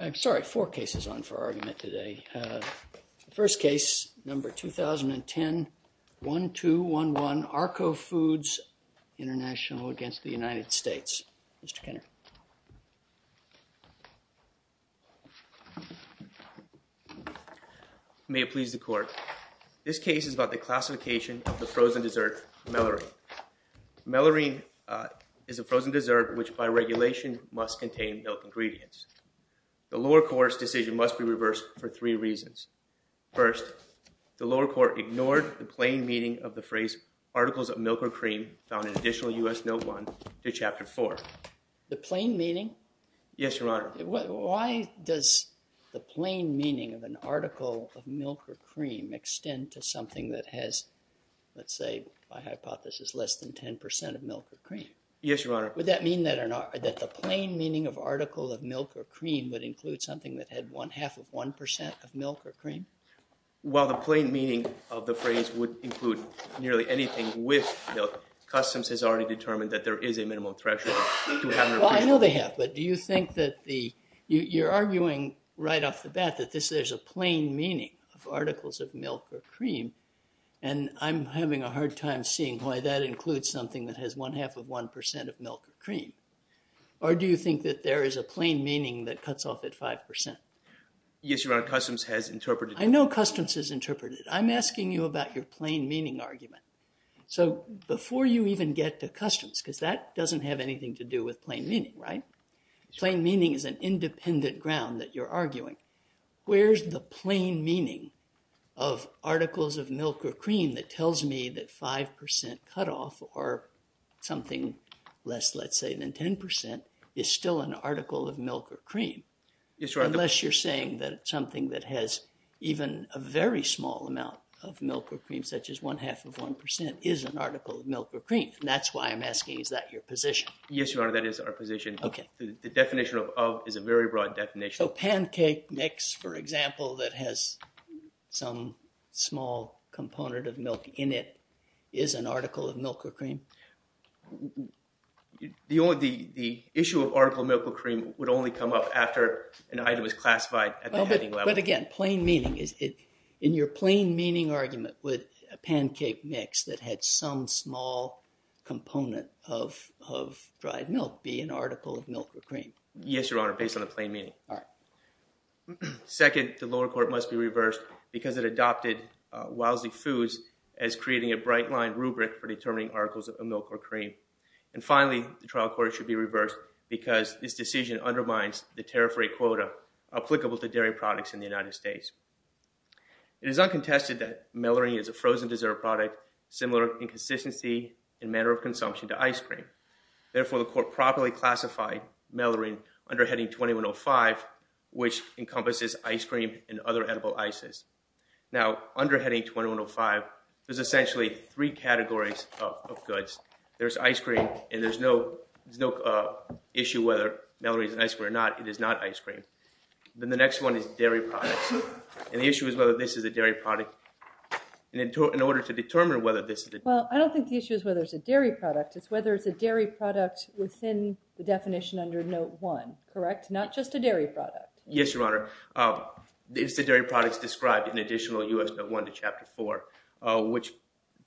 I'm sorry, four cases on for argument today. First case, number 2010-1211, ARKO FOODS INTL v. United States. Mr. Kenner. May it please the court. This case is about the classification of the frozen dessert, mellarine. Mellarine is a frozen dessert which by regulation must contain milk ingredients. The lower court's decision must be reversed for three reasons. First, the lower court ignored the plain meaning of the phrase articles of milk or cream found in Additional U.S. Note 1 to Chapter 4. The plain meaning? Yes, Your Honor. Why does the plain meaning of an article of milk or cream extend to something that has, let's say, by hypothesis, less than 10% of milk or cream? Yes, Your Honor. Would that mean that the plain meaning of article of milk or cream would include something that had half of 1% of milk or cream? Well, the plain meaning of the phrase would include nearly anything with milk. Customs has already determined that there is a minimum threshold. Well, I know they have, but do you think that you're arguing right off the bat that there's a plain meaning of articles of milk or cream? And I'm having a hard time seeing why that includes something that has one half of 1% of milk or cream. Or do you think that there is a plain meaning that cuts off at 5%? Yes, Your Honor. Customs has interpreted it. I know Customs has interpreted it. I'm asking you about your plain meaning argument. So before you even get to Customs, because that doesn't have anything to do with plain meaning, right? Plain meaning is an independent ground that you're arguing. Where's the plain meaning of articles of milk or cream that tells me that 5% cutoff or something less, let's say, than 10% is still an article of milk or cream? Yes, Your Honor. Unless you're saying that something that has even a very small amount of milk or cream, such as one half of 1%, is an article of milk or cream. And that's why I'm asking, is that your position? Yes, Your Honor, that is our position. Okay. The definition of of is a very broad definition. So pancake mix, for example, that has some small component of milk in it is an article of milk or cream? The issue of article of milk or cream would only come up after an item is classified at the heading level. But again, plain meaning, in your plain meaning argument, would a pancake mix that had some small component of dried milk be an article of milk or cream? Yes, Your Honor, based on the plain meaning. All right. Second, the lower court must be reversed because it adopted Wowsley Foods as creating a bright line rubric for determining articles of milk or cream. And finally, the trial court should be reversed because this decision undermines the tariff rate quota applicable to dairy products in the United States. It is uncontested that melurine is a frozen dessert product similar in consistency and manner of consumption to ice cream. Therefore, the court properly classified melurine under heading 2105, which encompasses ice cream and other edible ices. Now, under heading 2105, there's essentially three categories of goods. There's ice cream, and there's no issue whether melurine is an ice cream or not. It is not ice cream. Then the next one is dairy products. And the issue is whether this is a dairy product. And in order to determine whether this is a— Well, I don't think the issue is whether it's a dairy product. It's whether it's a dairy product within the definition under Note 1, correct? Not just a dairy product. Yes, Your Honor. It's the dairy products described in additional U.S. Note 1 to Chapter 4, which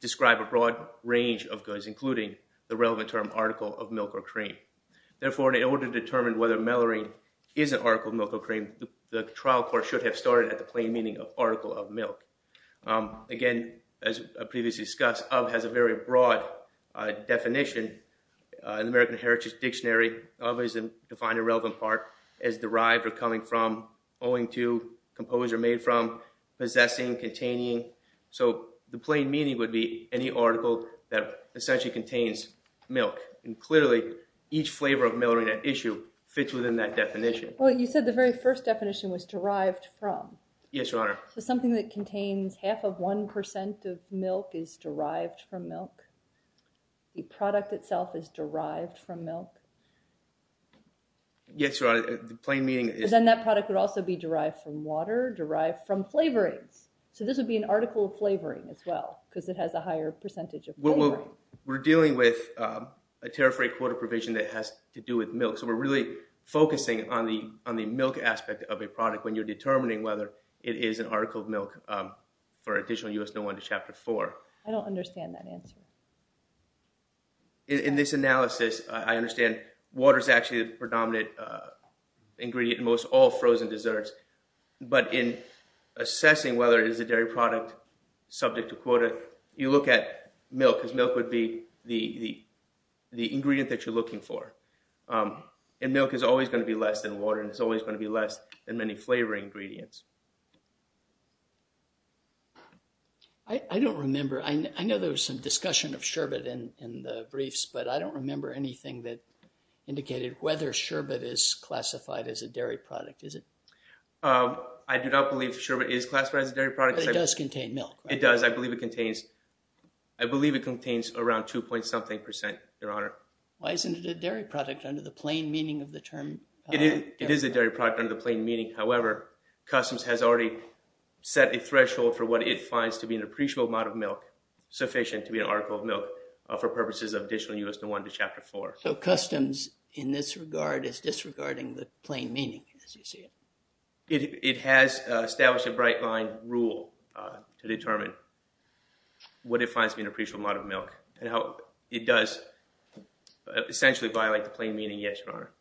describe a broad range of goods, including the relevant term article of milk or cream. Therefore, in order to determine whether melurine is an article of milk or cream, the trial court should have started at the plain meaning of article of milk. Again, as previously discussed, of has a very broad definition. In the American Heritage Dictionary, of is defined a relevant part as derived or coming from, owing to, composed or made from, possessing, containing. So the plain meaning would be any article that essentially contains milk. And clearly, each flavor of melurine at issue fits within that definition. Well, you said the very first definition was derived from. Yes, Your Honor. So something that contains half of 1% of milk is derived from milk? The product itself is derived from milk? Yes, Your Honor. The plain meaning is— Then that product would also be derived from water, derived from flavorings. So this would be an article of flavoring as well because it has a higher percentage of flavoring. We're dealing with a tariff rate quota provision that has to do with milk, so we're really focusing on the milk aspect of a product when you're determining whether it is an article of milk for additional U.S. No. 1 to Chapter 4. I don't understand that answer. In this analysis, I understand water is actually the predominant ingredient in most all frozen desserts, but in assessing whether it is a dairy product subject to quota, you look at milk because milk would be the ingredient that you're looking for. And milk is always going to be less than water, and it's always going to be less than many flavoring ingredients. I don't remember. I know there was some discussion of sherbet in the briefs, but I don't remember anything that indicated whether sherbet is classified as a dairy product. Is it? I do not believe sherbet is classified as a dairy product. But it does contain milk, right? It does. I believe it contains around 2-point-something percent, Your Honor. Why isn't it a dairy product under the plain meaning of the term dairy? It is a dairy product under the plain meaning. However, customs has already set a threshold for what it finds to be an appreciable amount of milk, sufficient to be an article of milk for purposes of additional U.S. No. 1 to Chapter 4. So customs in this regard is disregarding the plain meaning, as you see it. It has established a bright-line rule to determine what it finds to be an appreciable amount of milk and how it does essentially violate the plain meaning, yes, Your Honor.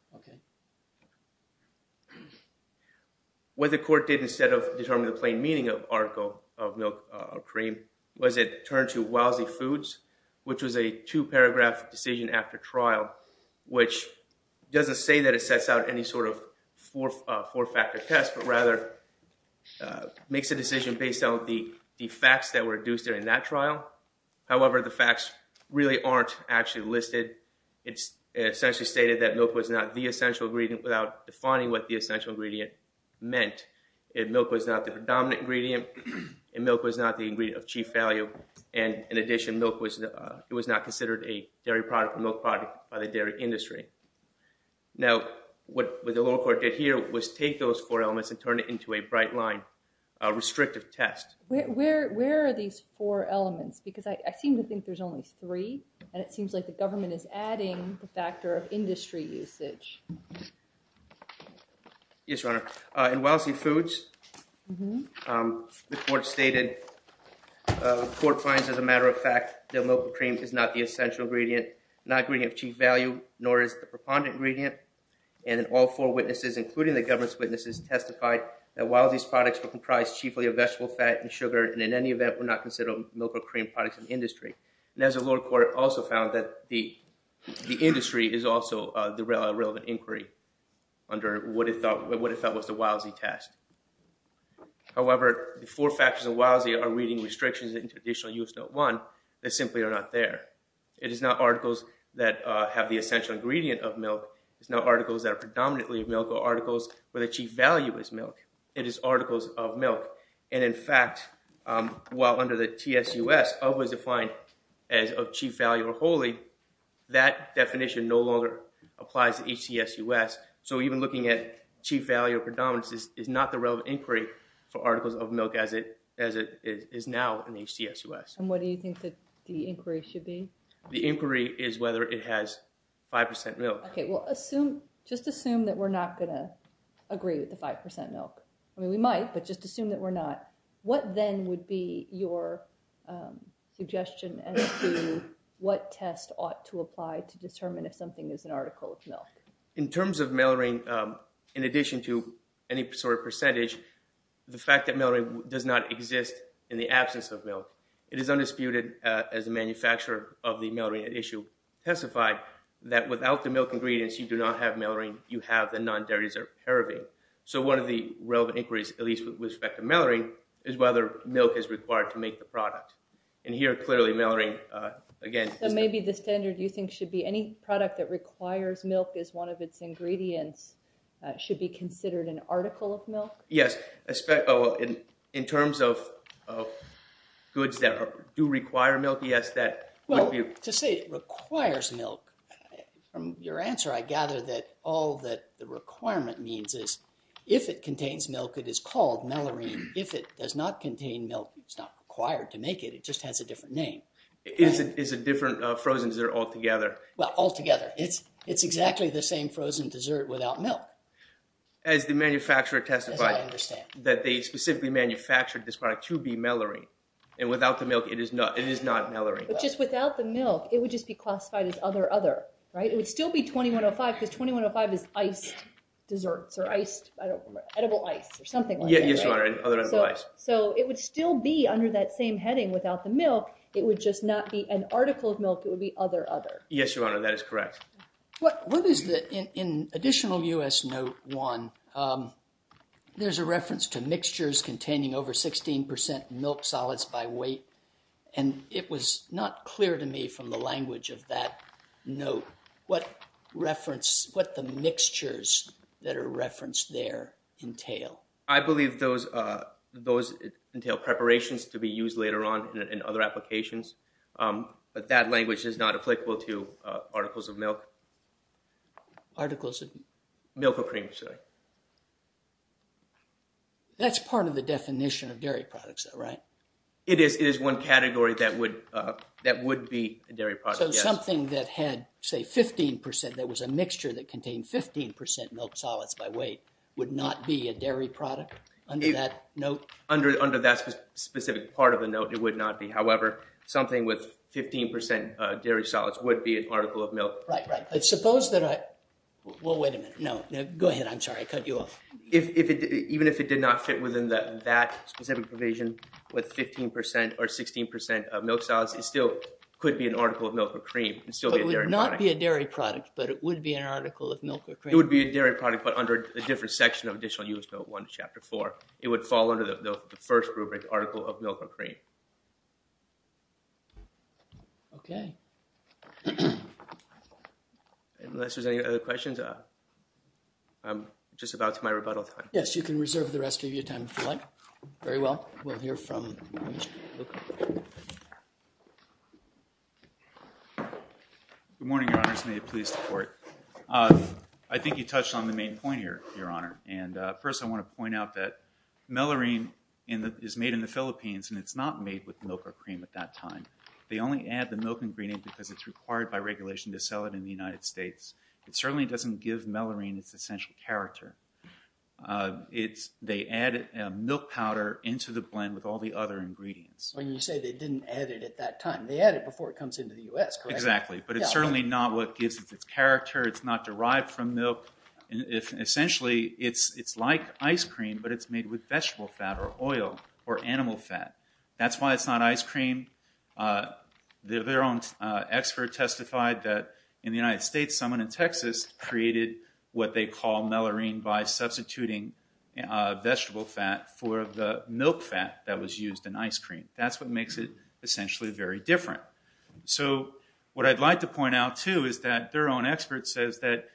What the court did instead of determining the plain meaning of article of milk or cream was it turned to lousy foods, which was a two-paragraph decision after trial, which doesn't say that it sets out any sort of four-factor test, but rather makes a decision based on the facts that were induced during that trial. However, the facts really aren't actually listed. It's essentially stated that milk was not the essential ingredient without defining what the essential ingredient meant. Milk was not the predominant ingredient, and milk was not the ingredient of chief value. And in addition, milk was not considered a dairy product or milk product by the dairy industry. Now, what the lower court did here was take those four elements and turn it into a bright-line restrictive test. Where are these four elements? Because I seem to think there's only three, and it seems like the government is adding the factor of industry usage. Yes, Your Honor. In lousy foods, the court stated, the court finds, as a matter of fact, that milk or cream is not the essential ingredient, not ingredient of chief value, nor is it the preponderant ingredient. And all four witnesses, including the government's witnesses, testified that while these products were comprised chiefly of vegetable fat and sugar, and in any event were not considered milk or cream products in the industry. And as the lower court also found that the industry is also the relevant inquiry under what it felt was the lousy test. However, the four factors of lousy are reading restrictions in traditional U.S. Note 1 that simply are not there. It is not articles that have the essential ingredient of milk. It's not articles that are predominantly of milk or articles where the chief value is milk. It is articles of milk. And in fact, while under the TSUS, of was defined as of chief value or wholly, that definition no longer applies to HTSUS. So even looking at chief value of predominance is not the relevant inquiry for articles of milk as it is now in HTSUS. And what do you think that the inquiry should be? The inquiry is whether it has 5% milk. Okay. Well, assume, just assume that we're not going to agree with the 5% milk. I mean, we might, but just assume that we're not. What then would be your suggestion as to what test ought to apply to determine if something is an article of milk? In terms of malarine, in addition to any sort of percentage, the fact that malarine does not exist in the absence of milk, it is undisputed as a manufacturer of the malarine at issue testified that without the milk ingredients, you do not have malarine. You have the non-dairy-deserved paraben. So one of the relevant inquiries, at least with respect to malarine, is whether milk is required to make the product. And here, clearly, malarine, again- So maybe the standard you think should be any product that requires milk as one of its ingredients should be considered an article of milk? Yes. In terms of goods that do require milk, yes, that would be- Well, to say it requires milk, from your answer, I gather that all that the requirement means is if it contains milk, it is called malarine. If it does not contain milk, it's not required to make it. It just has a different name. It's a different frozen dessert altogether. Well, altogether. It's exactly the same frozen dessert without milk. As the manufacturer testified- As I understand. That they specifically manufactured this product to be malarine. And without the milk, it is not malarine. But just without the milk, it would just be classified as other, other, right? It would still be 2105 because 2105 is iced desserts or iced, I don't remember, edible ice or something like that, right? Yes, Your Honor. So it would still be under that same heading without the milk. It would just not be an article of milk. It would be other, other. Yes, Your Honor. That is correct. What is the, in additional U.S. Note 1, there's a reference to mixtures containing over 16% milk solids by weight. And it was not clear to me from the language of that note what reference, what the mixtures that are referenced there entail. I believe those, those entail preparations to be used later on in other applications. But that language is not applicable to articles of milk. Articles of- Milk or cream, sorry. That's part of the definition of dairy products though, right? It is, it is one category that would, that would be a dairy product, yes. So something that had, say, 15%, that was a mixture that contained 15% milk solids by weight would not be a dairy product under that note? Under that specific part of the note, it would not be. However, something with 15% dairy solids would be an article of milk. Right, right. But suppose that I, well, wait a minute. No, go ahead. I'm sorry. I cut you off. If it, even if it did not fit within that specific provision with 15% or 16% of milk solids, it still could be an article of milk or cream. It would not be a dairy product, but it would be an article of milk or cream. It would be a dairy product, but under a different section of Additional Use Note 1, Chapter 4. It would fall under the first rubric, article of milk or cream. Okay. Unless there's any other questions, I'm just about to my rebuttal time. Yes, you can reserve the rest of your time if you like. Very well. We'll hear from you. I think you touched on the main point here, Your Honor. And first, I want to point out that melurine is made in the Philippines, and it's not made with milk or cream at that time. They only add the milk ingredient because it's required by regulation to sell it in the United States. It certainly doesn't give melurine its essential character. It's, they add milk powder into the blend with all the other ingredients. When you say they didn't add it at that time, they add it before it comes into the U.S., correct? Exactly. But it's certainly not what gives it its character. It's not derived from milk. Essentially, it's like ice cream, but it's made with vegetable fat or oil or animal fat. That's why it's not ice cream. Their own expert testified that in the United States, someone in Texas created what they call melurine by substituting vegetable fat for the milk fat that was used in ice cream. That's what makes it essentially very different. So, what I'd like to point out, too, is that their own expert says that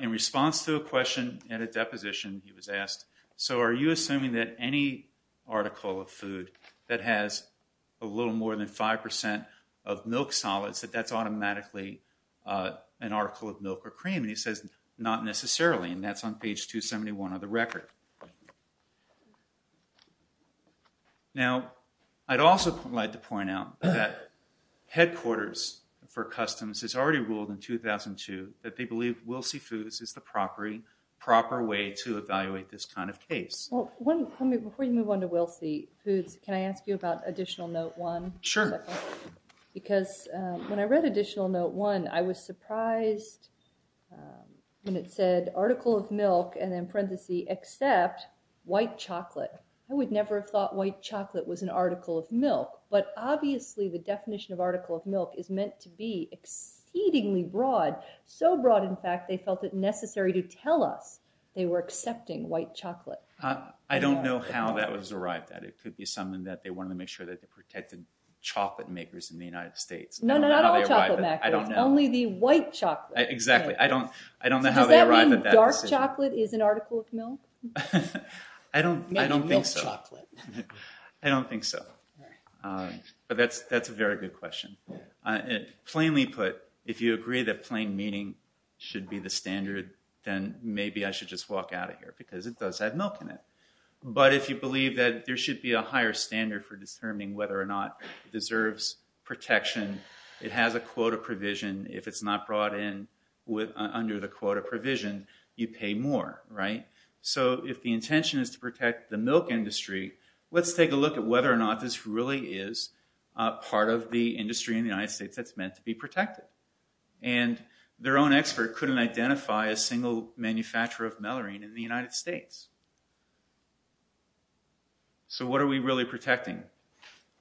in response to a question and a deposition, he was asked, so are you assuming that any article of food that has a little more than 5% of milk solids, that that's automatically an article of milk or cream? And he says, not necessarily, and that's on page 271 of the record. Now, I'd also like to point out that Headquarters for Customs has already ruled in 2002 that they believe Wilsey Foods is the proper way to evaluate this kind of case. Before you move on to Wilsey Foods, can I ask you about Additional Note 1? Sure. Because when I read Additional Note 1, I was surprised when it said, article of milk, and then parenthesis, except white chocolate. I would never have thought white chocolate was an article of milk. But obviously, the definition of article of milk is meant to be exceedingly broad. So broad, in fact, they felt it necessary to tell us they were accepting white chocolate. I don't know how that was arrived at. It could be something that they wanted to make sure that they protected chocolate makers in the United States. No, no, not all chocolate makers. I don't know. Only the white chocolate makers. Exactly. I don't know how they arrived at that decision. Does that mean dark chocolate is an article of milk? I don't think so. Maybe milk chocolate. I don't think so. But that's a very good question. Plainly put, if you agree that plain meaning should be the standard, then maybe I should just walk out of here because it does have milk in it. But if you believe that there should be a higher standard for determining whether or not it deserves protection, it has a quota provision. If it's not brought in under the quota provision, you pay more. So if the intention is to protect the milk industry, let's take a look at whether or not this really is part of the industry in the United States that's meant to be protected. And their own expert couldn't identify a single manufacturer of melurine in the United States. So what are we really protecting?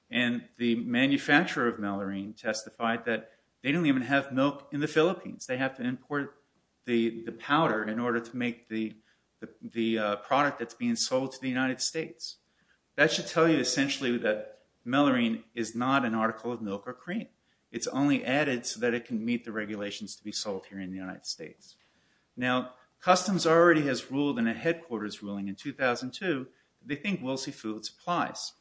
And the manufacturer of melurine testified that they don't even have milk in the Philippines. They have to import the powder in order to make the product that's being sold to the United States. That should tell you essentially that melurine is not an article of milk or cream. It's only added so that it can meet the regulations to be sold here in the United States. Now, Customs already has ruled in a headquarters ruling in 2002. They think Wilsey Foods applies.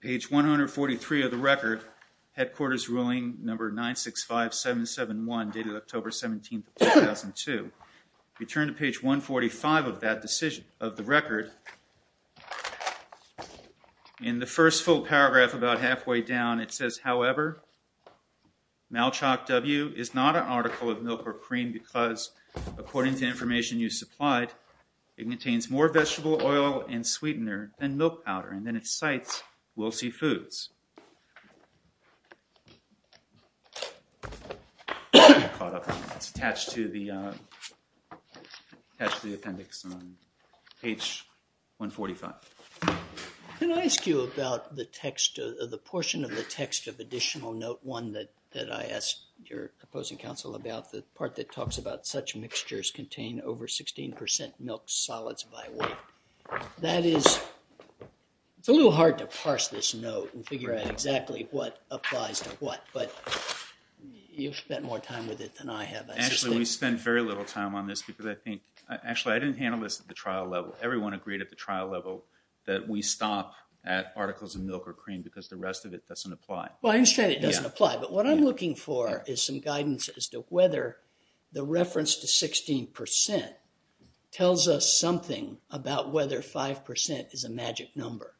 Page 143 of the record, headquarters ruling number 965771, dated October 17, 2002. If you turn to page 145 of the record, in the first full paragraph about halfway down it says, however, Malchok W is not an article of milk or cream because, according to information you supplied, it contains more vegetable oil and sweetener than milk powder. And then it cites Wilsey Foods. It's attached to the appendix on page 145. Can I ask you about the portion of the text of additional note 1 that I asked your opposing counsel about, the part that talks about such mixtures contain over 16 percent milk solids by weight. That is, it's a little hard to parse this note and figure out what it is. I don't know exactly what applies to what, but you've spent more time with it than I have. Actually, we spend very little time on this because I think – actually, I didn't handle this at the trial level. Everyone agreed at the trial level that we stop at articles of milk or cream because the rest of it doesn't apply. Well, I understand it doesn't apply, but what I'm looking for is some guidance as to whether the reference to 16 percent tells us something about whether 5 percent is a magic number,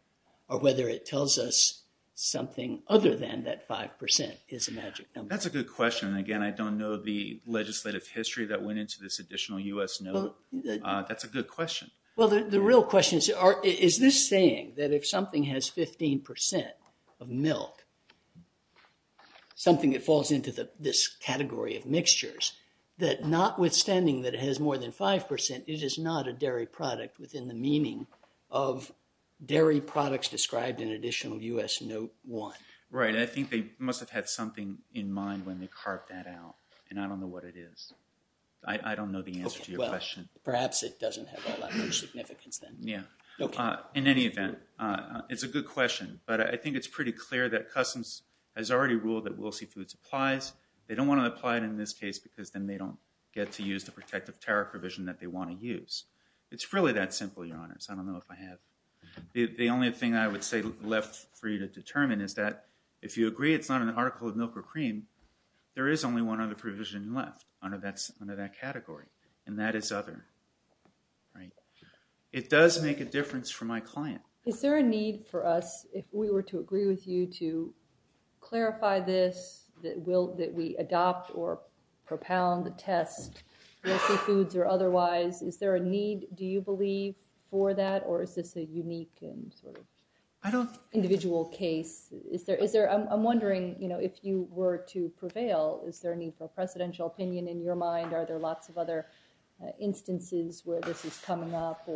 or whether it tells us something other than that 5 percent is a magic number. That's a good question. Again, I don't know the legislative history that went into this additional U.S. note. That's a good question. Well, the real question is, is this saying that if something has 15 percent of milk, something that falls into this category of mixtures, that notwithstanding that it has more than 5 percent, it is not a dairy product within the meaning of dairy products described in additional U.S. note 1. Right. I think they must have had something in mind when they carved that out, and I don't know what it is. I don't know the answer to your question. Okay. Well, perhaps it doesn't have all that much significance then. Yeah. Okay. In any event, it's a good question, but I think it's pretty clear that customs has already ruled that Wilsey Foods applies. They don't want to apply it in this case because then they don't get to use the protective tariff provision that they want to use. It's really that simple, Your Honors. I don't know if I have. The only thing I would say left for you to determine is that if you agree it's not an article of milk or cream, there is only one other provision left under that category, and that is other. Right. It does make a difference for my client. Is there a need for us, if we were to agree with you, to clarify this, that we adopt or propound the test, Wilsey Foods or otherwise? Is there a need, do you believe, for that, or is this a unique and sort of individual case? I'm wondering, you know, if you were to prevail, is there a need for a presidential opinion in your mind? Are there lots of other instances where this is coming up?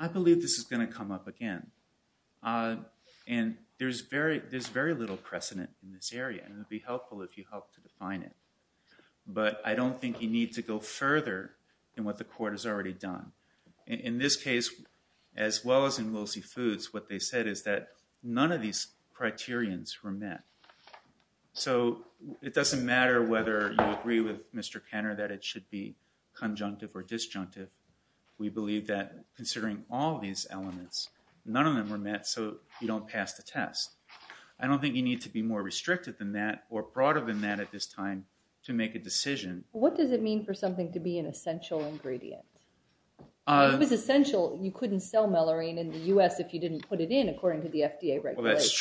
I believe this is going to come up again. And there's very little precedent in this area, and it would be helpful if you helped to define it. But I don't think you need to go further than what the Court has already done. In this case, as well as in Wilsey Foods, what they said is that none of these criterions were met. So it doesn't matter whether you agree with Mr. Kenner that it should be conjunctive or disjunctive. We believe that, considering all these elements, none of them were met, so you don't pass the test. I don't think you need to be more restricted than that or broader than that at this time to make a decision. What does it mean for something to be an essential ingredient? If it was essential, you couldn't sell melurine in the U.S. if you didn't put it in, according to the FDA regulations.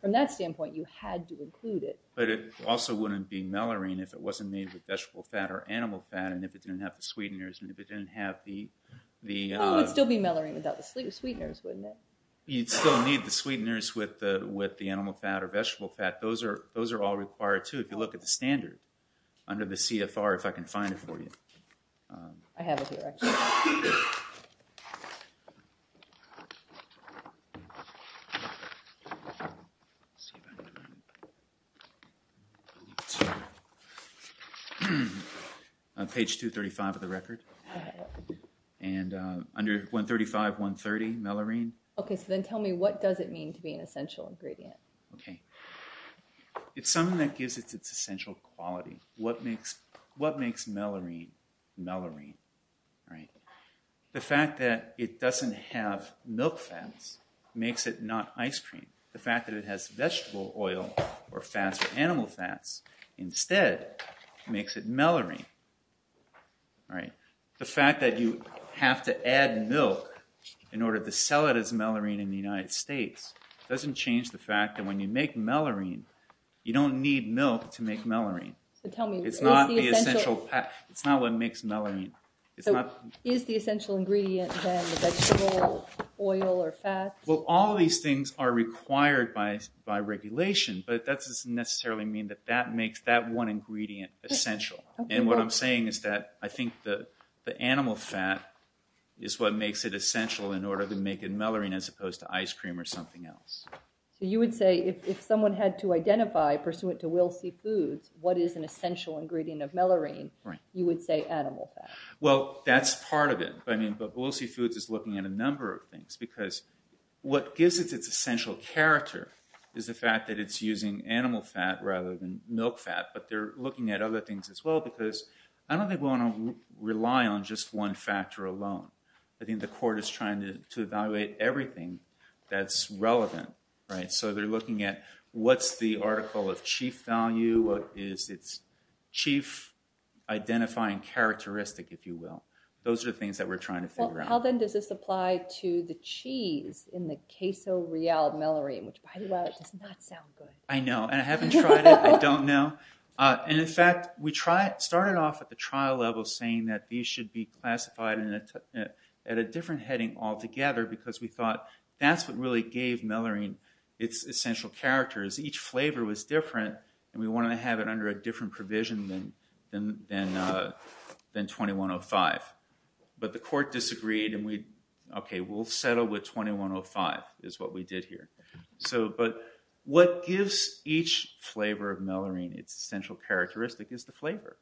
From that standpoint, you had to include it. But it also wouldn't be melurine if it wasn't made with vegetable fat or animal fat, and if it didn't have the sweeteners. It would still be melurine without the sweeteners, wouldn't it? You'd still need the sweeteners with the animal fat or vegetable fat. Those are all required, too, if you look at the standard under the CFR, if I can find it for you. I have it here, actually. Let's see if I can find it. Page 235 of the record. And under 135, 130, melurine. Okay, so then tell me, what does it mean to be an essential ingredient? Okay. It's something that gives it its essential quality. What makes melurine melurine? The fact that it doesn't have milk fats makes it not ice cream. The fact that it has vegetable oil or fats or animal fats, instead, makes it melurine. The fact that you have to add milk in order to sell it as melurine in the United States doesn't change the fact that when you make melurine, you don't need milk to make melurine. It's not what makes melurine. Is the essential ingredient, then, the vegetable oil or fats? Well, all of these things are required by regulation, but that doesn't necessarily mean that that makes that one ingredient essential. And what I'm saying is that I think the animal fat is what makes it essential in order to make it melurine as opposed to ice cream or something else. So you would say if someone had to identify, pursuant to Will C. Foods, what is an essential ingredient of melurine, you would say animal fat. Well, that's part of it, but Will C. Foods is looking at a number of things because what gives it its essential character is the fact that it's using animal fat rather than milk fat. But they're looking at other things as well because I don't think we want to rely on just one factor alone. I think the court is trying to evaluate everything that's relevant, right? So they're looking at what's the article of chief value, what is its chief identifying characteristic, if you will. Those are the things that we're trying to figure out. Well, how, then, does this apply to the cheese in the queso real melurine, which, by the way, does not sound good? I know, and I haven't tried it. I don't know. In fact, we started off at the trial level saying that these should be classified at a different heading altogether because we thought that's what really gave melurine its essential character, is each flavor was different and we wanted to have it under a different provision than 2105. But the court disagreed and we, okay, we'll settle with 2105, is what we did here. But what gives each flavor of melurine its essential characteristic is the flavor.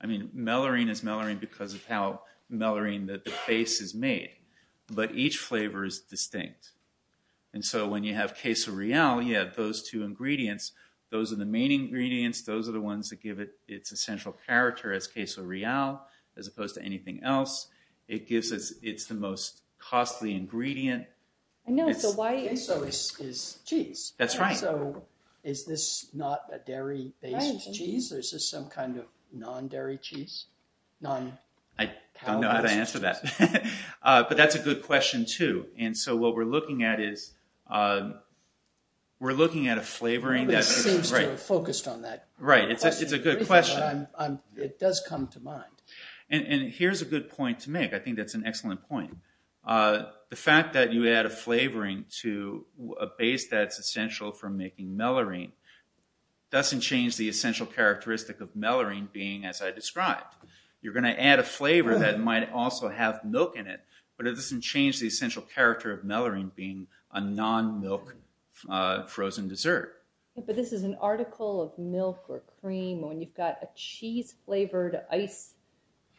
I mean, melurine is melurine because of how melurine the base is made. But each flavor is distinct. And so when you have queso real, you have those two ingredients. Those are the main ingredients. Those are the ones that give it its essential character as queso real as opposed to anything else. It's the most costly ingredient. So queso is cheese. That's right. So is this not a dairy-based cheese? Is this some kind of non-dairy cheese? I don't know how to answer that. But that's a good question, too. And so what we're looking at is we're looking at a flavoring that's— Nobody seems to have focused on that. Right, it's a good question. It does come to mind. And here's a good point to make. I think that's an excellent point. The fact that you add a flavoring to a base that's essential for making melurine doesn't change the essential characteristic of melurine being as I described. You're going to add a flavor that might also have milk in it, but it doesn't change the essential character of melurine being a non-milk frozen dessert. But this is an article of milk or cream when you've got a cheese-flavored ice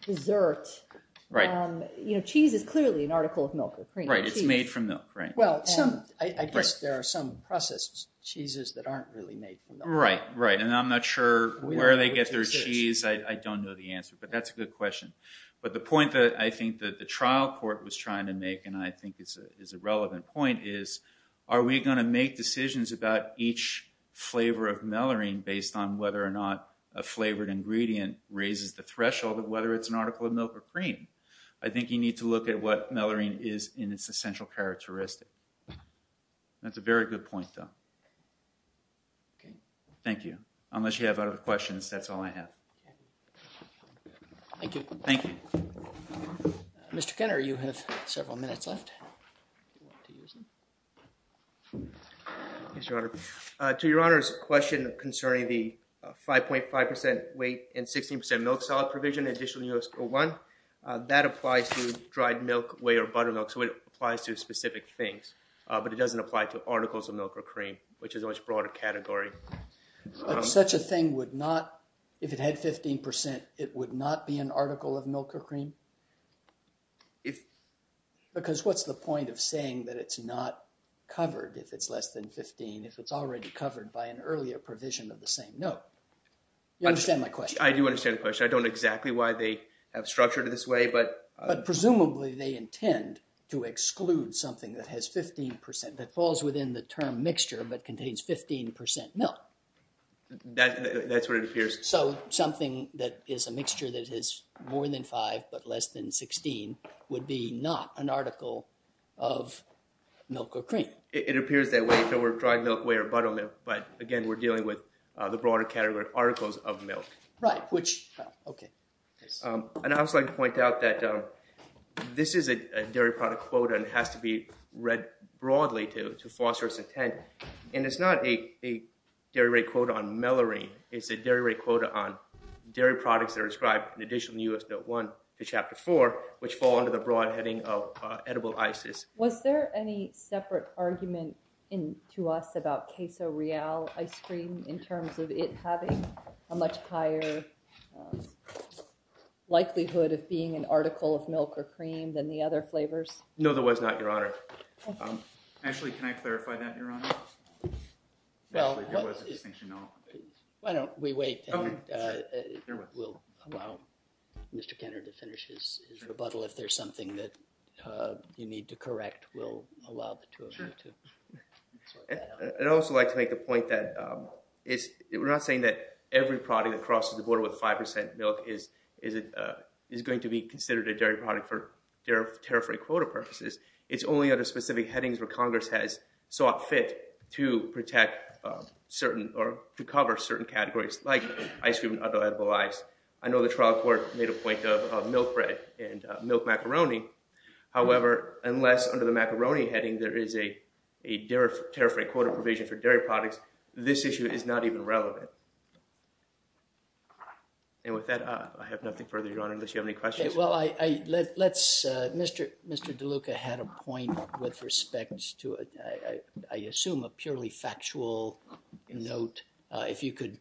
dessert. Cheese is clearly an article of milk or cream. Right, it's made from milk. Well, I guess there are some processed cheeses that aren't really made from milk. Right, right. And I'm not sure where they get their cheese. I don't know the answer. But that's a good question. But the point that I think that the trial court was trying to make, and I think is a relevant point, is are we going to make decisions about each flavor of melurine based on whether or not a flavored ingredient raises the threshold of whether it's an article of milk or cream. I think you need to look at what melurine is in its essential characteristic. That's a very good point, though. Okay. Thank you. Unless you have other questions, that's all I have. Thank you. Thank you. Mr. Kenner, you have several minutes left. Do you want to use them? Yes, Your Honor. To Your Honor's question concerning the 5.5% weight and 16% milk solid provision, additionally in U.S. Code 1, that applies to dried milk, whey, or buttermilk. So it applies to specific things. But it doesn't apply to articles of milk or cream, which is a much broader category. But such a thing would not, if it had 15%, it would not be an article of milk or cream? Because what's the point of saying that it's not covered if it's less than 15% if it's already covered by an earlier provision of the same note? You understand my question? I do understand the question. I don't know exactly why they have structured it this way. But presumably they intend to exclude something that has 15% that falls within the term mixture but contains 15% milk. That's what it appears. So something that is a mixture that is more than 5% but less than 16% would be not an article of milk or cream. It appears that way if it were dried milk, whey, or buttermilk. But again, we're dealing with the broader category of articles of milk. Right. And I would also like to point out that this is a dairy product quota and has to be read broadly to foster its intent. And it's not a dairy rate quota on melurine. It's a dairy rate quota on dairy products that are described in addition to US Note 1 to Chapter 4, which fall under the broad heading of edible ices. Was there any separate argument to us about queso real ice cream in terms of it having a much higher likelihood of being an article of milk or cream than the other flavors? No, there was not, Your Honor. Actually, can I clarify that, Your Honor? Actually, there was a distinction, no. Why don't we wait and we'll allow Mr. Kenner to finish his rebuttal. If there's something that you need to correct, we'll allow the two of you to sort that out. I'd also like to make the point that we're not saying that every product that crosses the border with 5% milk is going to be considered a dairy product for tariff rate quota purposes. It's only under specific headings where Congress has sought fit to protect certain or to cover certain categories like ice cream and other edible ice. I know the trial court made a point of milk bread and milk macaroni. However, unless under the macaroni heading there is a tariff rate quota provision for dairy products, this issue is not even relevant. And with that, I have nothing further, Your Honor, unless you have any questions. Well, Mr. DeLuca had a point with respect to, I assume, a purely factual note, if you could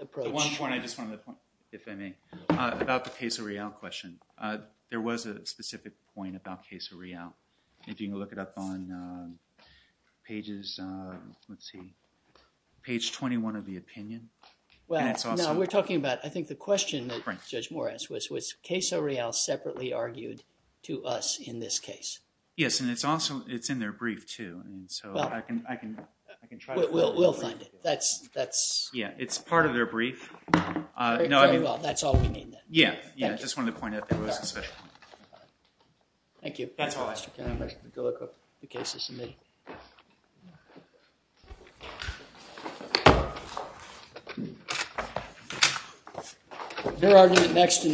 approach. One point I just want to make, if I may, about the Queso Real question. There was a specific point about Queso Real. If you can look it up on pages, let's see, page 21 of the opinion. We're talking about, I think, the question that Judge Moore asked was Queso Real separately argued to us in this case. Yes, and it's also, it's in their brief too. I can try to find it. We'll find it. It's part of their brief. Very well. That's all we need then. Yeah, I just wanted to point out that it was a special point. Thank you. That's all I have. Mr. DeLuca, the case is submitted. Is there argument next?